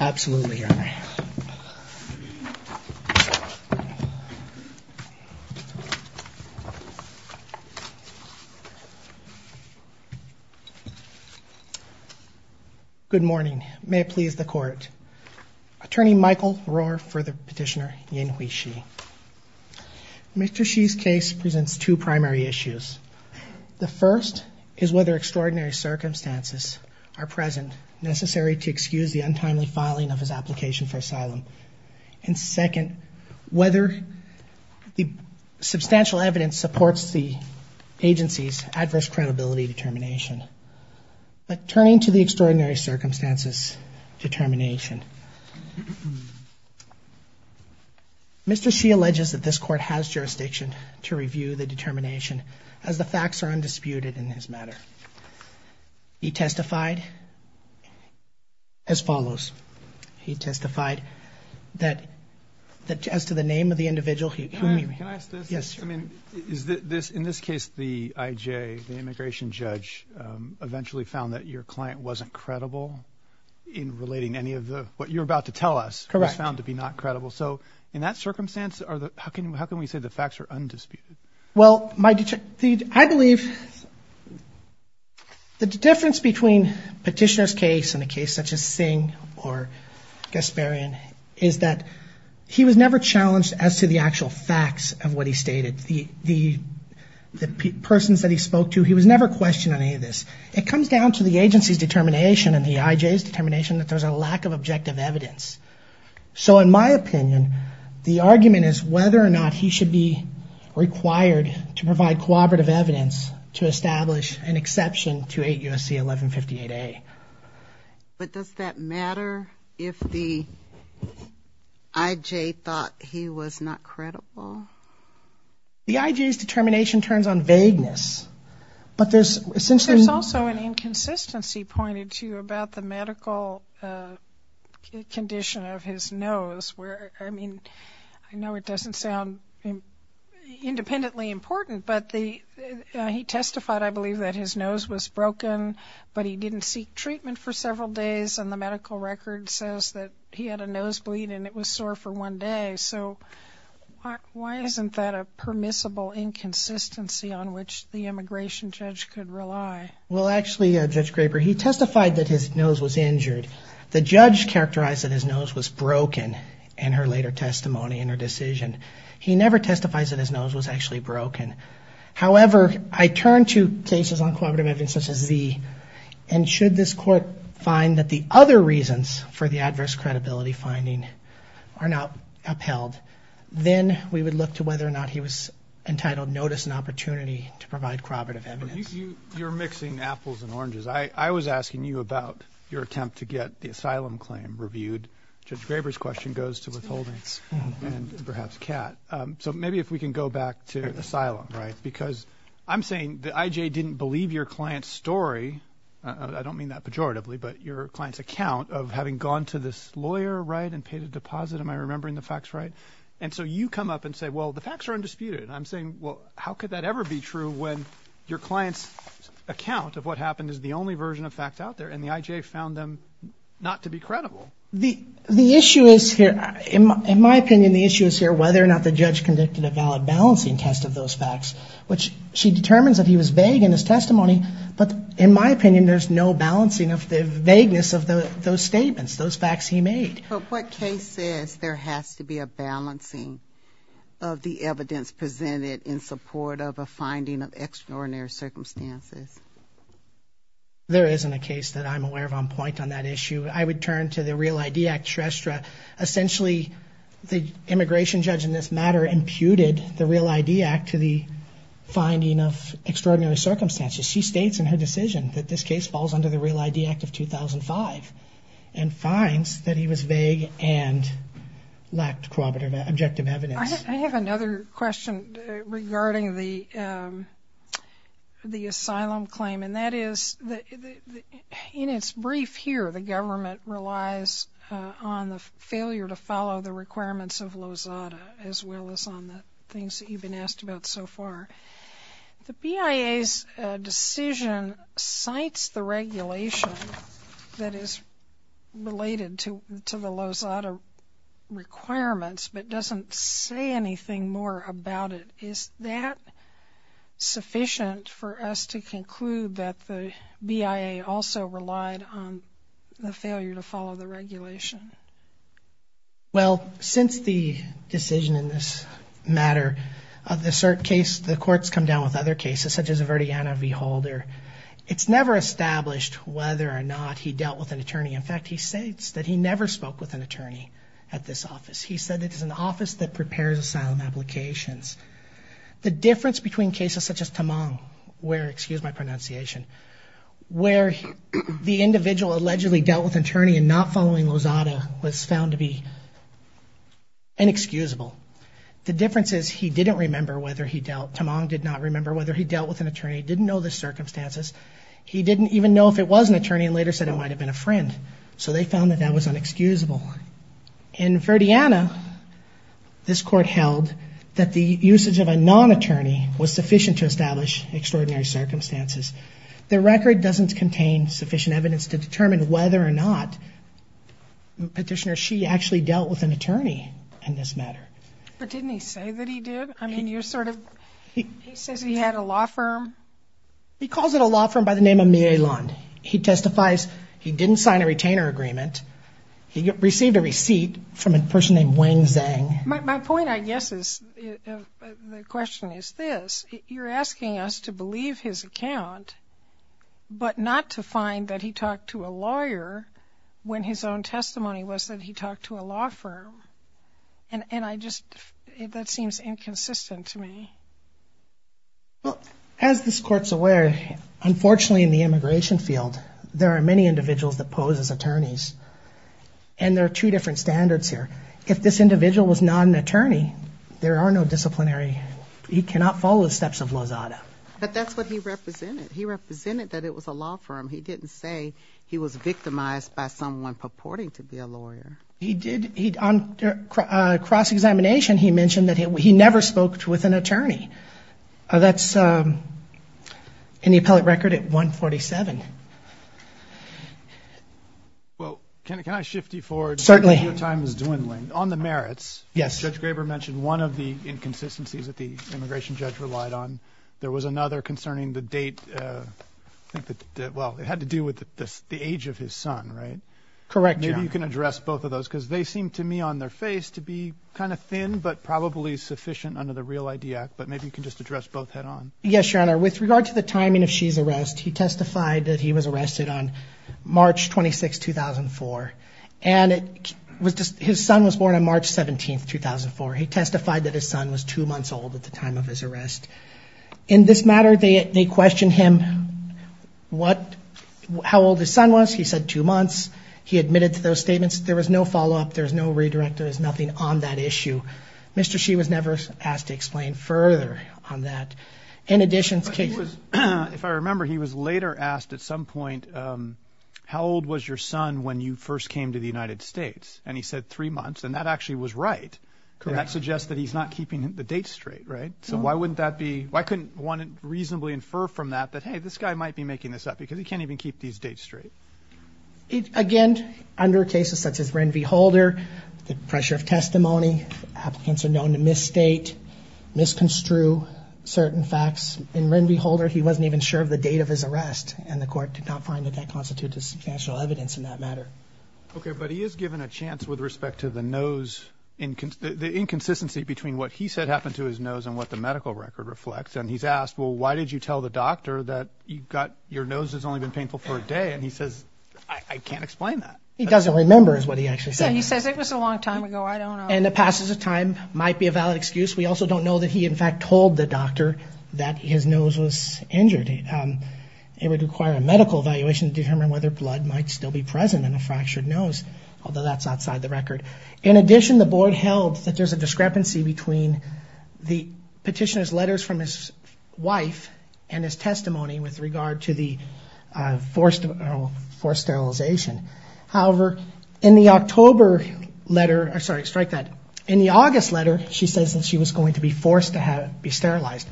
Absolutely your honor. Good morning. May it please the court. Attorney Michael Rohr for the petitioner Yinhui Shi. Mr. Shi's case presents two primary issues. The first is whether extraordinary circumstances are present necessary to excuse the untimely filing of his application for asylum. And second, whether the substantial evidence supports the agency's adverse credibility determination. But turning to the extraordinary circumstances determination. Mr. Shi alleges that this court has jurisdiction to review the case as follows. He testified that as to the name of the individual he can't. Can I ask this? Yes sir. I mean is that this in this case the IJ the immigration judge eventually found that your client wasn't credible in relating any of the what you're about to tell us. Correct. Was found to be not credible. So in that circumstance are the how can how can we say the facts are undisputed? Well I believe the difference between petitioner's case and a case such as Singh or Gasparian is that he was never challenged as to the actual facts of what he stated. The persons that he spoke to he was never questioned on any of this. It comes down to the agency's determination and the IJ's determination that there's a lack of objective evidence. So in my opinion the should be required to provide cooperative evidence to establish an exception to 8 USC 1158A. But does that matter if the IJ thought he was not credible? The IJ's determination turns on vagueness. But there's since there's also an inconsistency pointed to about the medical condition of his nose where I mean I know it doesn't sound independently important but the he testified I believe that his nose was broken but he didn't seek treatment for several days and the medical record says that he had a nosebleed and it was sore for one day. So why isn't that a permissible inconsistency on which the immigration judge could rely? Well actually Judge Graber he testified that his nose was injured. The judge characterized that his nose was broken in her later testimony in her decision. He never testifies that his nose was actually broken. However I turn to cases on cooperative evidence such as Z and should this court find that the other reasons for the adverse credibility finding are not upheld then we would look to whether or not he was entitled notice and opportunity to provide corroborative evidence. You're mixing apples and oranges. I was asking you about your attempt to get the asylum claim reviewed. Judge Graber's question goes to withholding and perhaps Kat. So maybe if we can go back to asylum right because I'm saying the IJ didn't believe your client's story I don't mean that pejoratively but your client's account of having gone to this lawyer right and paid a deposit am I remembering the facts right and so you come up and say well the facts are undisputed I'm saying well how could that ever be true when your clients account of what happened is the only version of fact out there and the IJ found them not to be credible. The the issue is here in my opinion the issue is here whether or not the judge conducted a valid balancing test of those facts which she determines that he was vague in his testimony but in my opinion there's no balancing of the vagueness of those statements those facts he made. But what case says there has to be a balancing of the evidence presented in support of a finding of extraordinary circumstances? There isn't a case that I'm aware of on point on that issue. I would turn to the Real ID Act. Shrestha essentially the immigration judge in this matter imputed the Real ID Act to the finding of extraordinary circumstances. She states in her decision that this case falls under the Real ID Act of 2005 and finds that he was vague and lacked corroborative objective evidence. I have another question regarding the the asylum claim and that is that in its brief here the government relies on the failure to follow the requirements of Lozada as well as on the things that you've been asked about so far. The BIA's decision cites the regulation that is related to to the Lozada requirements but doesn't say anything more about it. Is that sufficient for us to conclude that the BIA also relied on the failure to follow the regulation? Well since the decision in this matter of the cert case the courts come down with other cases such as a Verdiana v. Holder. It's never established whether or not he dealt with an attorney. In fact he states that he never spoke with an attorney at this office. He said it is an office that prepares asylum applications. The difference between cases such as Tamang where, excuse my pronunciation, where the individual allegedly dealt with attorney and not following Lozada was found to be inexcusable. The difference is he didn't remember whether he dealt, Tamang did not remember whether he dealt with an attorney, didn't know the circumstances. He didn't even know if it was an attorney and later said it might have been a friend. So they found that that was inexcusable. In Verdiana this court held that the usage of a non-attorney was sufficient to establish extraordinary circumstances. The record doesn't contain sufficient evidence to determine whether or not Petitioner Shee actually dealt with an attorney in this matter. But didn't he say that he did? I mean you're sort of, he says he had a law firm. He calls it a law firm by the He received a receipt from a person named Wang Zhang. My point I guess is, the question is this, you're asking us to believe his account but not to find that he talked to a lawyer when his own testimony was that he talked to a law firm. And I just, that seems inconsistent to me. Well as this court's aware unfortunately in the immigration field there are many individuals that pose as and there are two different standards here. If this individual was not an attorney, there are no disciplinary, he cannot follow the steps of Lazada. But that's what he represented. He represented that it was a law firm. He didn't say he was victimized by someone purporting to be a lawyer. He did, on cross-examination he mentioned that he never spoke with an attorney. That's in the appellate record at 147. Well can I shift you forward? Certainly. Your time is dwindling. On the merits. Yes. Judge Graber mentioned one of the inconsistencies that the immigration judge relied on. There was another concerning the date. I think that, well it had to do with the age of his son, right? Correct, Your Honor. Maybe you can address both of those because they seem to me on their face to be kind of thin but probably sufficient under the Real ID Act. But maybe you can just address both head-on. Yes, Your Honor. With regard to the timing of Shi's arrest, he testified that he was arrested on March 26, 2004. And it was just, his son was born on March 17th, 2004. He testified that his son was two months old at the time of his arrest. In this matter, they questioned him what, how old his son was. He said two months. He admitted to those statements. There was no follow-up. There's no redirect. There's nothing on that issue. Mr. Shi was never asked to explain further on that. In addition, if I remember, he was later asked at some point, how old was your son when you first came to the United States? And he said three months. And that actually was right. Correct. And that suggests that he's not keeping the date straight, right? So why wouldn't that be, why couldn't one reasonably infer from that that, hey, this guy might be making this up because he can't even keep these dates straight. Again, under cases such as Ren v. Holder, the pressure of testimony, applicants are known to misstate, misconstrue certain facts. In Ren v. Holder, he wasn't even sure of the date of his arrest. And the court did not find that that constituted substantial evidence in that matter. Okay, but he is given a chance with respect to the nose, the inconsistency between what he said happened to his nose and what the medical record reflects. And he's asked, well, why did you tell the doctor that you've got, your nose has only been painful for a day? And he says, I can't explain that. He doesn't remember is what he actually said. He says it was a long time ago. I don't know. And it might be a valid excuse. We also don't know that he, in fact, told the doctor that his nose was injured. It would require a medical evaluation to determine whether blood might still be present in a fractured nose, although that's outside the record. In addition, the board held that there's a discrepancy between the petitioner's letters from his wife and his testimony with regard to the forced sterilization. However, in the October letter, sorry, strike that. In the August letter, she says that she was going to be forced to be sterilized.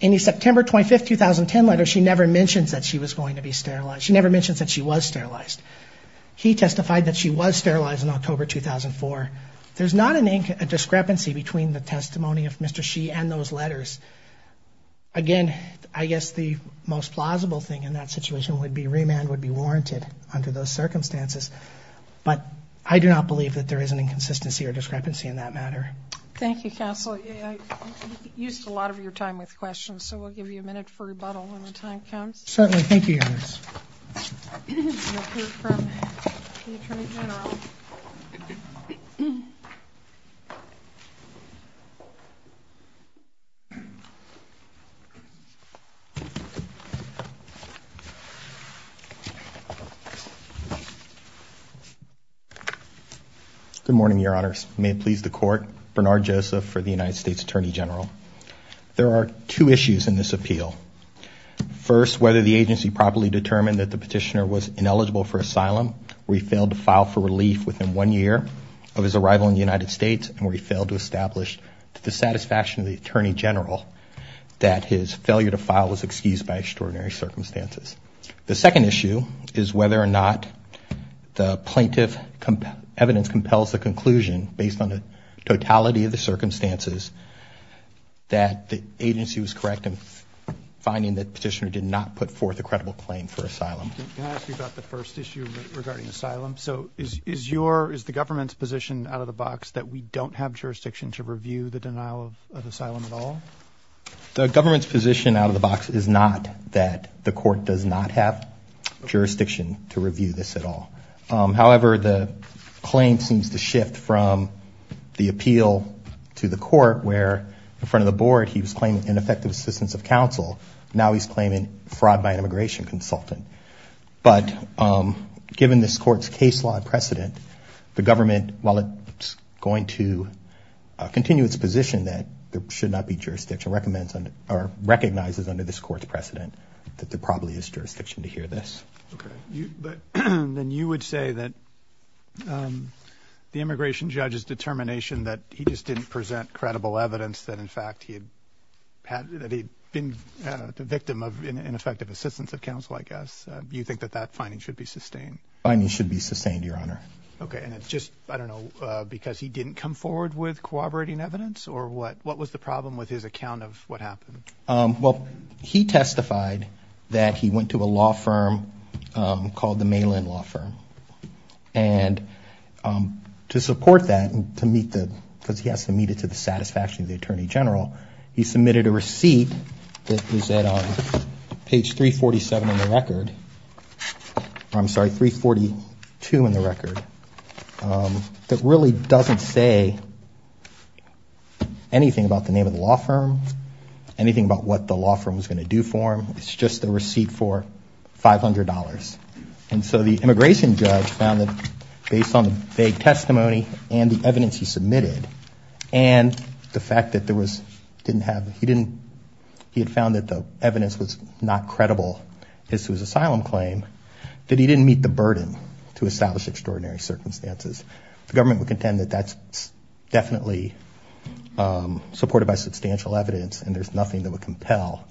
In the September 25, 2010 letter, she never mentions that she was going to be sterilized. She never mentions that she was sterilized. He testified that she was sterilized in October 2004. There's not a discrepancy between the testimony of Mr. Shi and those letters. Again, I guess the most plausible thing in that situation would be remand would be warranted under those circumstances. But I do not believe that there is an inconsistency or discrepancy in that matter. Thank you. Council used a lot of your time with questions, so we'll give you a minute for rebuttal when the time comes. Certainly. Thank you. Good morning, Your Honors. May it please the court. Bernard Joseph for the United States Attorney General. There are two issues in this appeal. First, whether the plaintiff actually determined that the petitioner was ineligible for asylum, where he failed to file for relief within one year of his arrival in the United States, and where he failed to establish to the satisfaction of the Attorney General that his failure to file was excused by extraordinary circumstances. The second issue is whether or not the plaintiff's evidence compels the conclusion, based on the totality of the circumstances, that the Can I ask you about the first issue regarding asylum? So is the government's position out of the box that we don't have jurisdiction to review the denial of asylum at all? The government's position out of the box is not that the court does not have jurisdiction to review this at all. However, the claim seems to shift from the appeal to the court, where in front of the board he was claiming ineffective assistance of counsel. Now he's claiming fraud by an asylum consultant. But given this court's case law precedent, the government, while it's going to continue its position that there should not be jurisdiction, recommends or recognizes under this court's precedent that there probably is jurisdiction to hear this. Then you would say that the immigration judge's determination that he just didn't present credible evidence that in fact he had been the victim of ineffective assistance of counsel, I guess. Do you think that that finding should be sustained? The finding should be sustained, Your Honor. Okay, and it's just, I don't know, because he didn't come forward with corroborating evidence? Or what was the problem with his account of what happened? Well, he testified that he went to a law firm called the Malin Law Firm. And to support that, because he has to meet it to the court, he submitted a receipt that was at page 347 in the record. I'm sorry, 342 in the record. That really doesn't say anything about the name of the law firm, anything about what the law firm was going to do for him. It's just a receipt for $500. And so the immigration judge found that based on the vague testimony and the evidence he submitted, and the fact that there was, didn't have, he didn't, he had found that the evidence was not credible as to his asylum claim, that he didn't meet the burden to establish extraordinary circumstances. The government would contend that that's definitely supported by substantial evidence, and there's nothing that would compel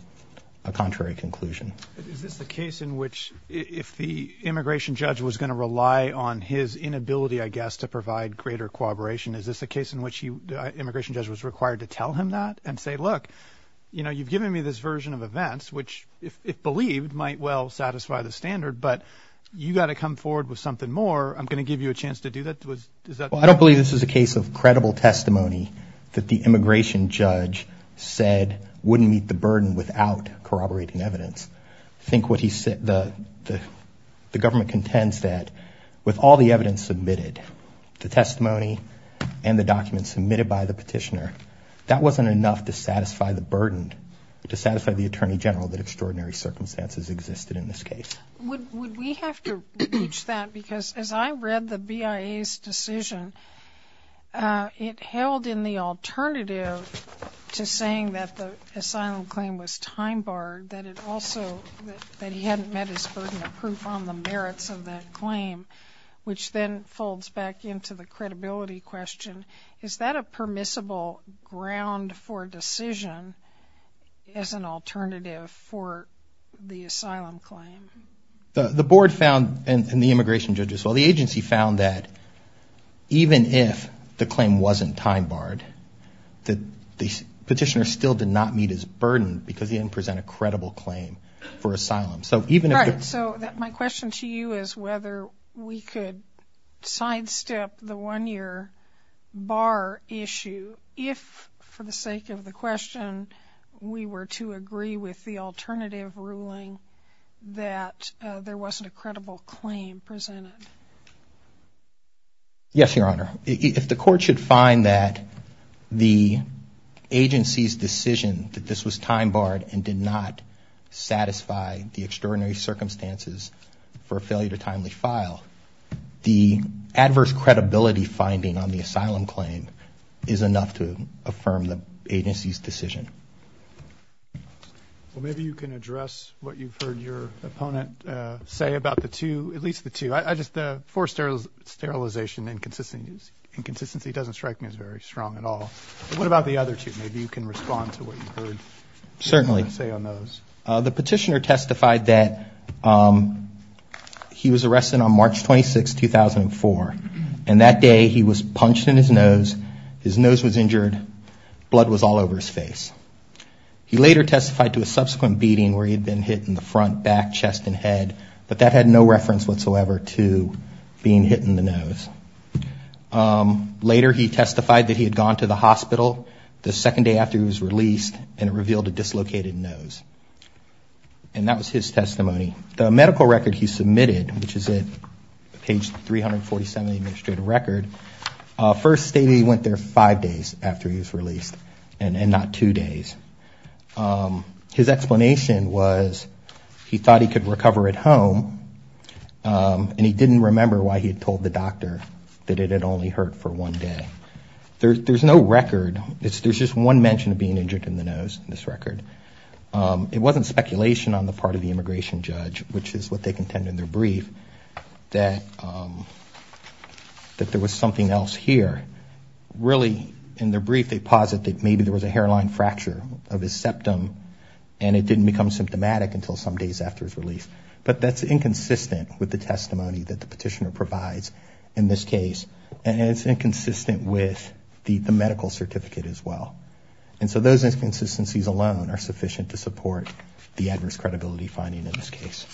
a contrary conclusion. Is this the case in which if the immigration judge was going to rely on his inability, I greater corroboration, is this a case in which he, the immigration judge, was required to tell him that and say, look, you know, you've given me this version of events which, if believed, might well satisfy the standard, but you got to come forward with something more. I'm going to give you a chance to do that. Well, I don't believe this is a case of credible testimony that the immigration judge said wouldn't meet the burden without corroborating evidence. I think what he said, the government contends that with all the evidence submitted, the testimony, and the documents submitted by the petitioner, that wasn't enough to satisfy the burden, to satisfy the Attorney General, that extraordinary circumstances existed in this case. Would we have to reach that, because as I read the BIA's decision, it held in the alternative to saying that the asylum claim was time-barred, that it also, that he hadn't met his burden of proof on the question, is that a permissible ground for decision as an alternative for the asylum claim? The board found, and the immigration judge as well, the agency found that even if the claim wasn't time-barred, that the petitioner still did not meet his burden because he didn't present a credible claim for asylum. So my question to you is whether we could sidestep the one-year bar issue if, for the sake of the question, we were to agree with the alternative ruling that there wasn't a credible claim presented. Yes, Your Honor. If the court should find that the agency's decision that this was time-barred and did not satisfy the extraordinary circumstances for a failure to timely file, the adverse credibility finding on the asylum claim is enough to affirm the agency's decision. Well, maybe you can address what you've heard your opponent say about the two, at least the two. I just, forced sterilization, inconsistency doesn't strike me as very strong at all. What about the other two? Maybe you can respond to what you've heard. Certainly. The petitioner testified that he was arrested on March 26, 2004, and that day he was punched in his nose, his nose was injured, blood was all over his face. He later testified to a subsequent beating where he had been hit in the front, back, chest, and head, but that had no reference whatsoever to being hit in the nose. Later, he testified that he had gone to the hospital the second day after he was released and it revealed a dislocated nose, and that was his testimony. The medical record he submitted, which is at page 347 of the administrative record, first stated he went there five days after he was released and not two days. His explanation was he thought he could recover at home, and he didn't remember why he had told the record, there's just one mention of being injured in the nose in this record, it wasn't speculation on the part of the immigration judge, which is what they contend in their brief, that there was something else here. Really, in their brief, they posit that maybe there was a hairline fracture of his septum and it didn't become symptomatic until some days after his release, but that's inconsistent with the testimony that the petitioner provides in this case, and it's inconsistent with the medical certificate as well, and so those inconsistencies alone are sufficient to support the adverse credibility finding in this case.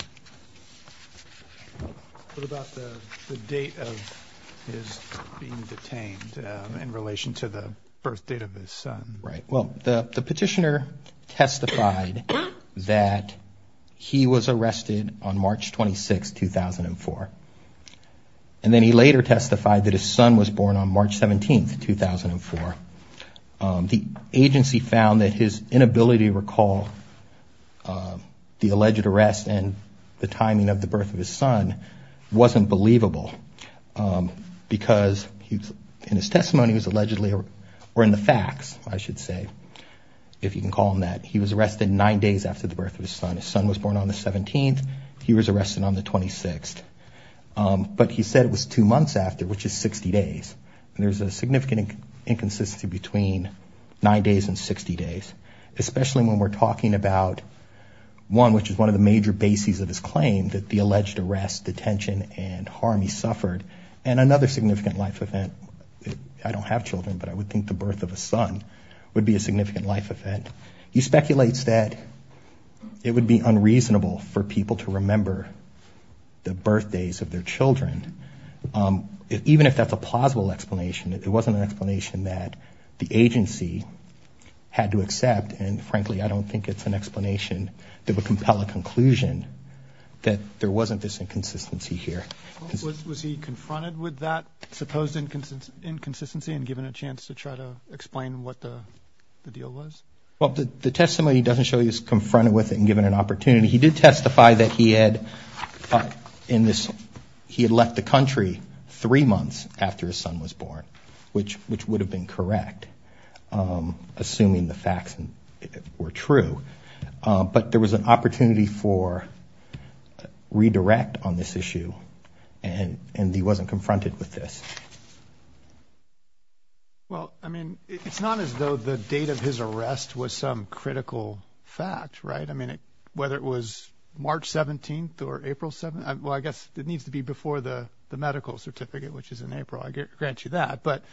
What about the date of his being detained in relation to the birth date of his son? Right, well, the petitioner testified that he was arrested on March 26, 2004, and then he later testified that his son was born on March 17, 2004. The agency found that his inability to recall the alleged arrest and the timing of the birth of his son wasn't believable, because in his testimony, or in the facts, I should say, if you can call them that, he was arrested nine days after the birth of his son. His son was born on the 17th, he was arrested on the 26th, but he said it was two months after, which is 60 days. There's a significant inconsistency between nine days and 60 days, especially when we're talking about one, which is one of the major bases of his claim, that the alleged arrest, detention, and harm he suffered, and another significant life event. I don't have children, but I would think the birth of a son would be a significant life event. He speculates that it would be unreasonable for people to remember the birthdays of their children. Even if that's a plausible explanation, it wasn't an explanation that the agency had to accept, and frankly, I don't think it's an explanation that would compel a conclusion that there wasn't this inconsistency here. Was he confronted with that supposed inconsistency and given a chance to try to explain what the deal was? Well, the testimony doesn't show he was confronted with it and given an opportunity. He did testify that he had left the country three months after his son was born, which would have been correct, assuming the facts were true, but there was an opportunity for redirect on this issue, and he wasn't confronted with this. Well, I mean, it's not as though the date of his arrest was some critical fact, right? I mean, whether it was March 17th or April 17th, well, I guess it needs to be before the medical certificate, which is in April. I grant you that, but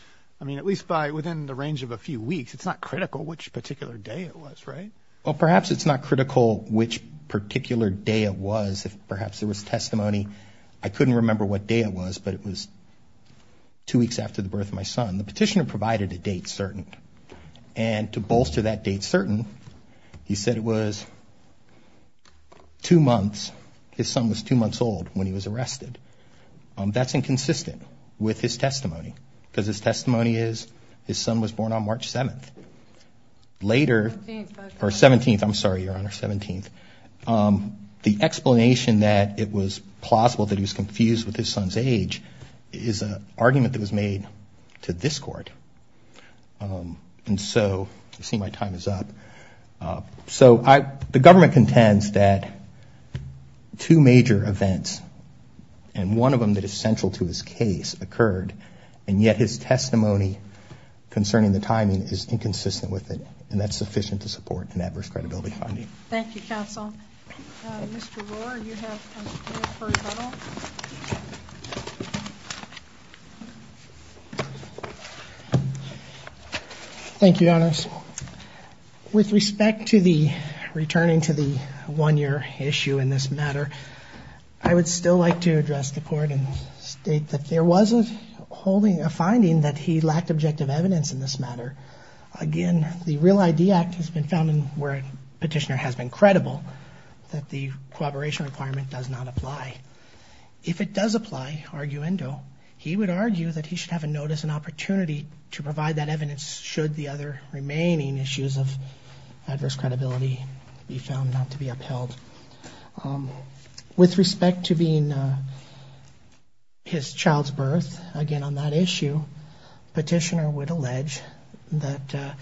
I mean, at least within the range of a few weeks, it's not critical which particular day it was, right? Well, perhaps it's not critical which particular day it was. If perhaps there was testimony, I couldn't remember what day it was, but it was two weeks after the birth of my son. The petitioner said it was two months. His son was two months old when he was arrested. That's inconsistent with his testimony because his testimony is his son was born on March 7th. Later, or 17th, I'm sorry, Your Honor, 17th. The explanation that it was plausible that he was confused with his son's age is an argument that was made to this Court. And so, I see my time is up. So, the government contends that two major events, and one of them that is central to his case, occurred, and yet his testimony concerning the timing is inconsistent with it, and that's it. Thank you, Your Honors. With respect to the returning to the one-year issue in this matter, I would still like to address the Court and state that there was a holding, a finding that he lacked objective evidence in this matter. Again, the Real I.D. Act has been found where a petitioner has been credible that the corroboration requirement does not apply. If it does apply, arguendo, he would argue that he should have a notice and opportunity to provide that evidence should the other remaining issues of adverse credibility be found not to be upheld. With respect to being his child's birth, again, on that issue, petitioner would allege that,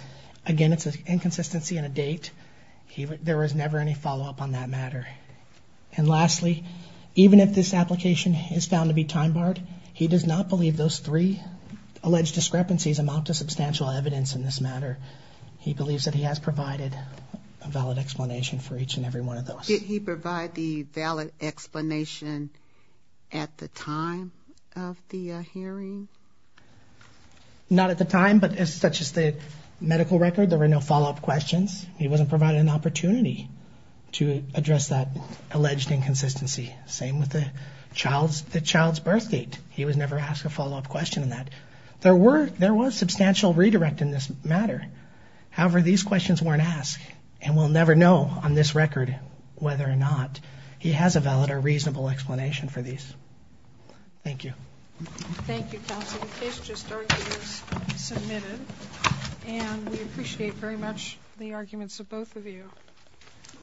again, it's an inconsistency in a date. There was never any follow-up on that matter. And lastly, even if this application is found to be time-barred, he does not believe those three alleged discrepancies amount to substantial evidence in this matter. He believes that he has provided a valid explanation for each and every one of those. Did he provide the valid explanation at the time of the hearing? Not at the time, but as such as the medical record, there were no follow-up questions. He wasn't provided an opportunity to address that child's birth date. He was never asked a follow-up question on that. There were, there was substantial redirect in this matter. However, these questions weren't asked and we'll never know on this record whether or not he has a valid or reasonable explanation for these. Thank you.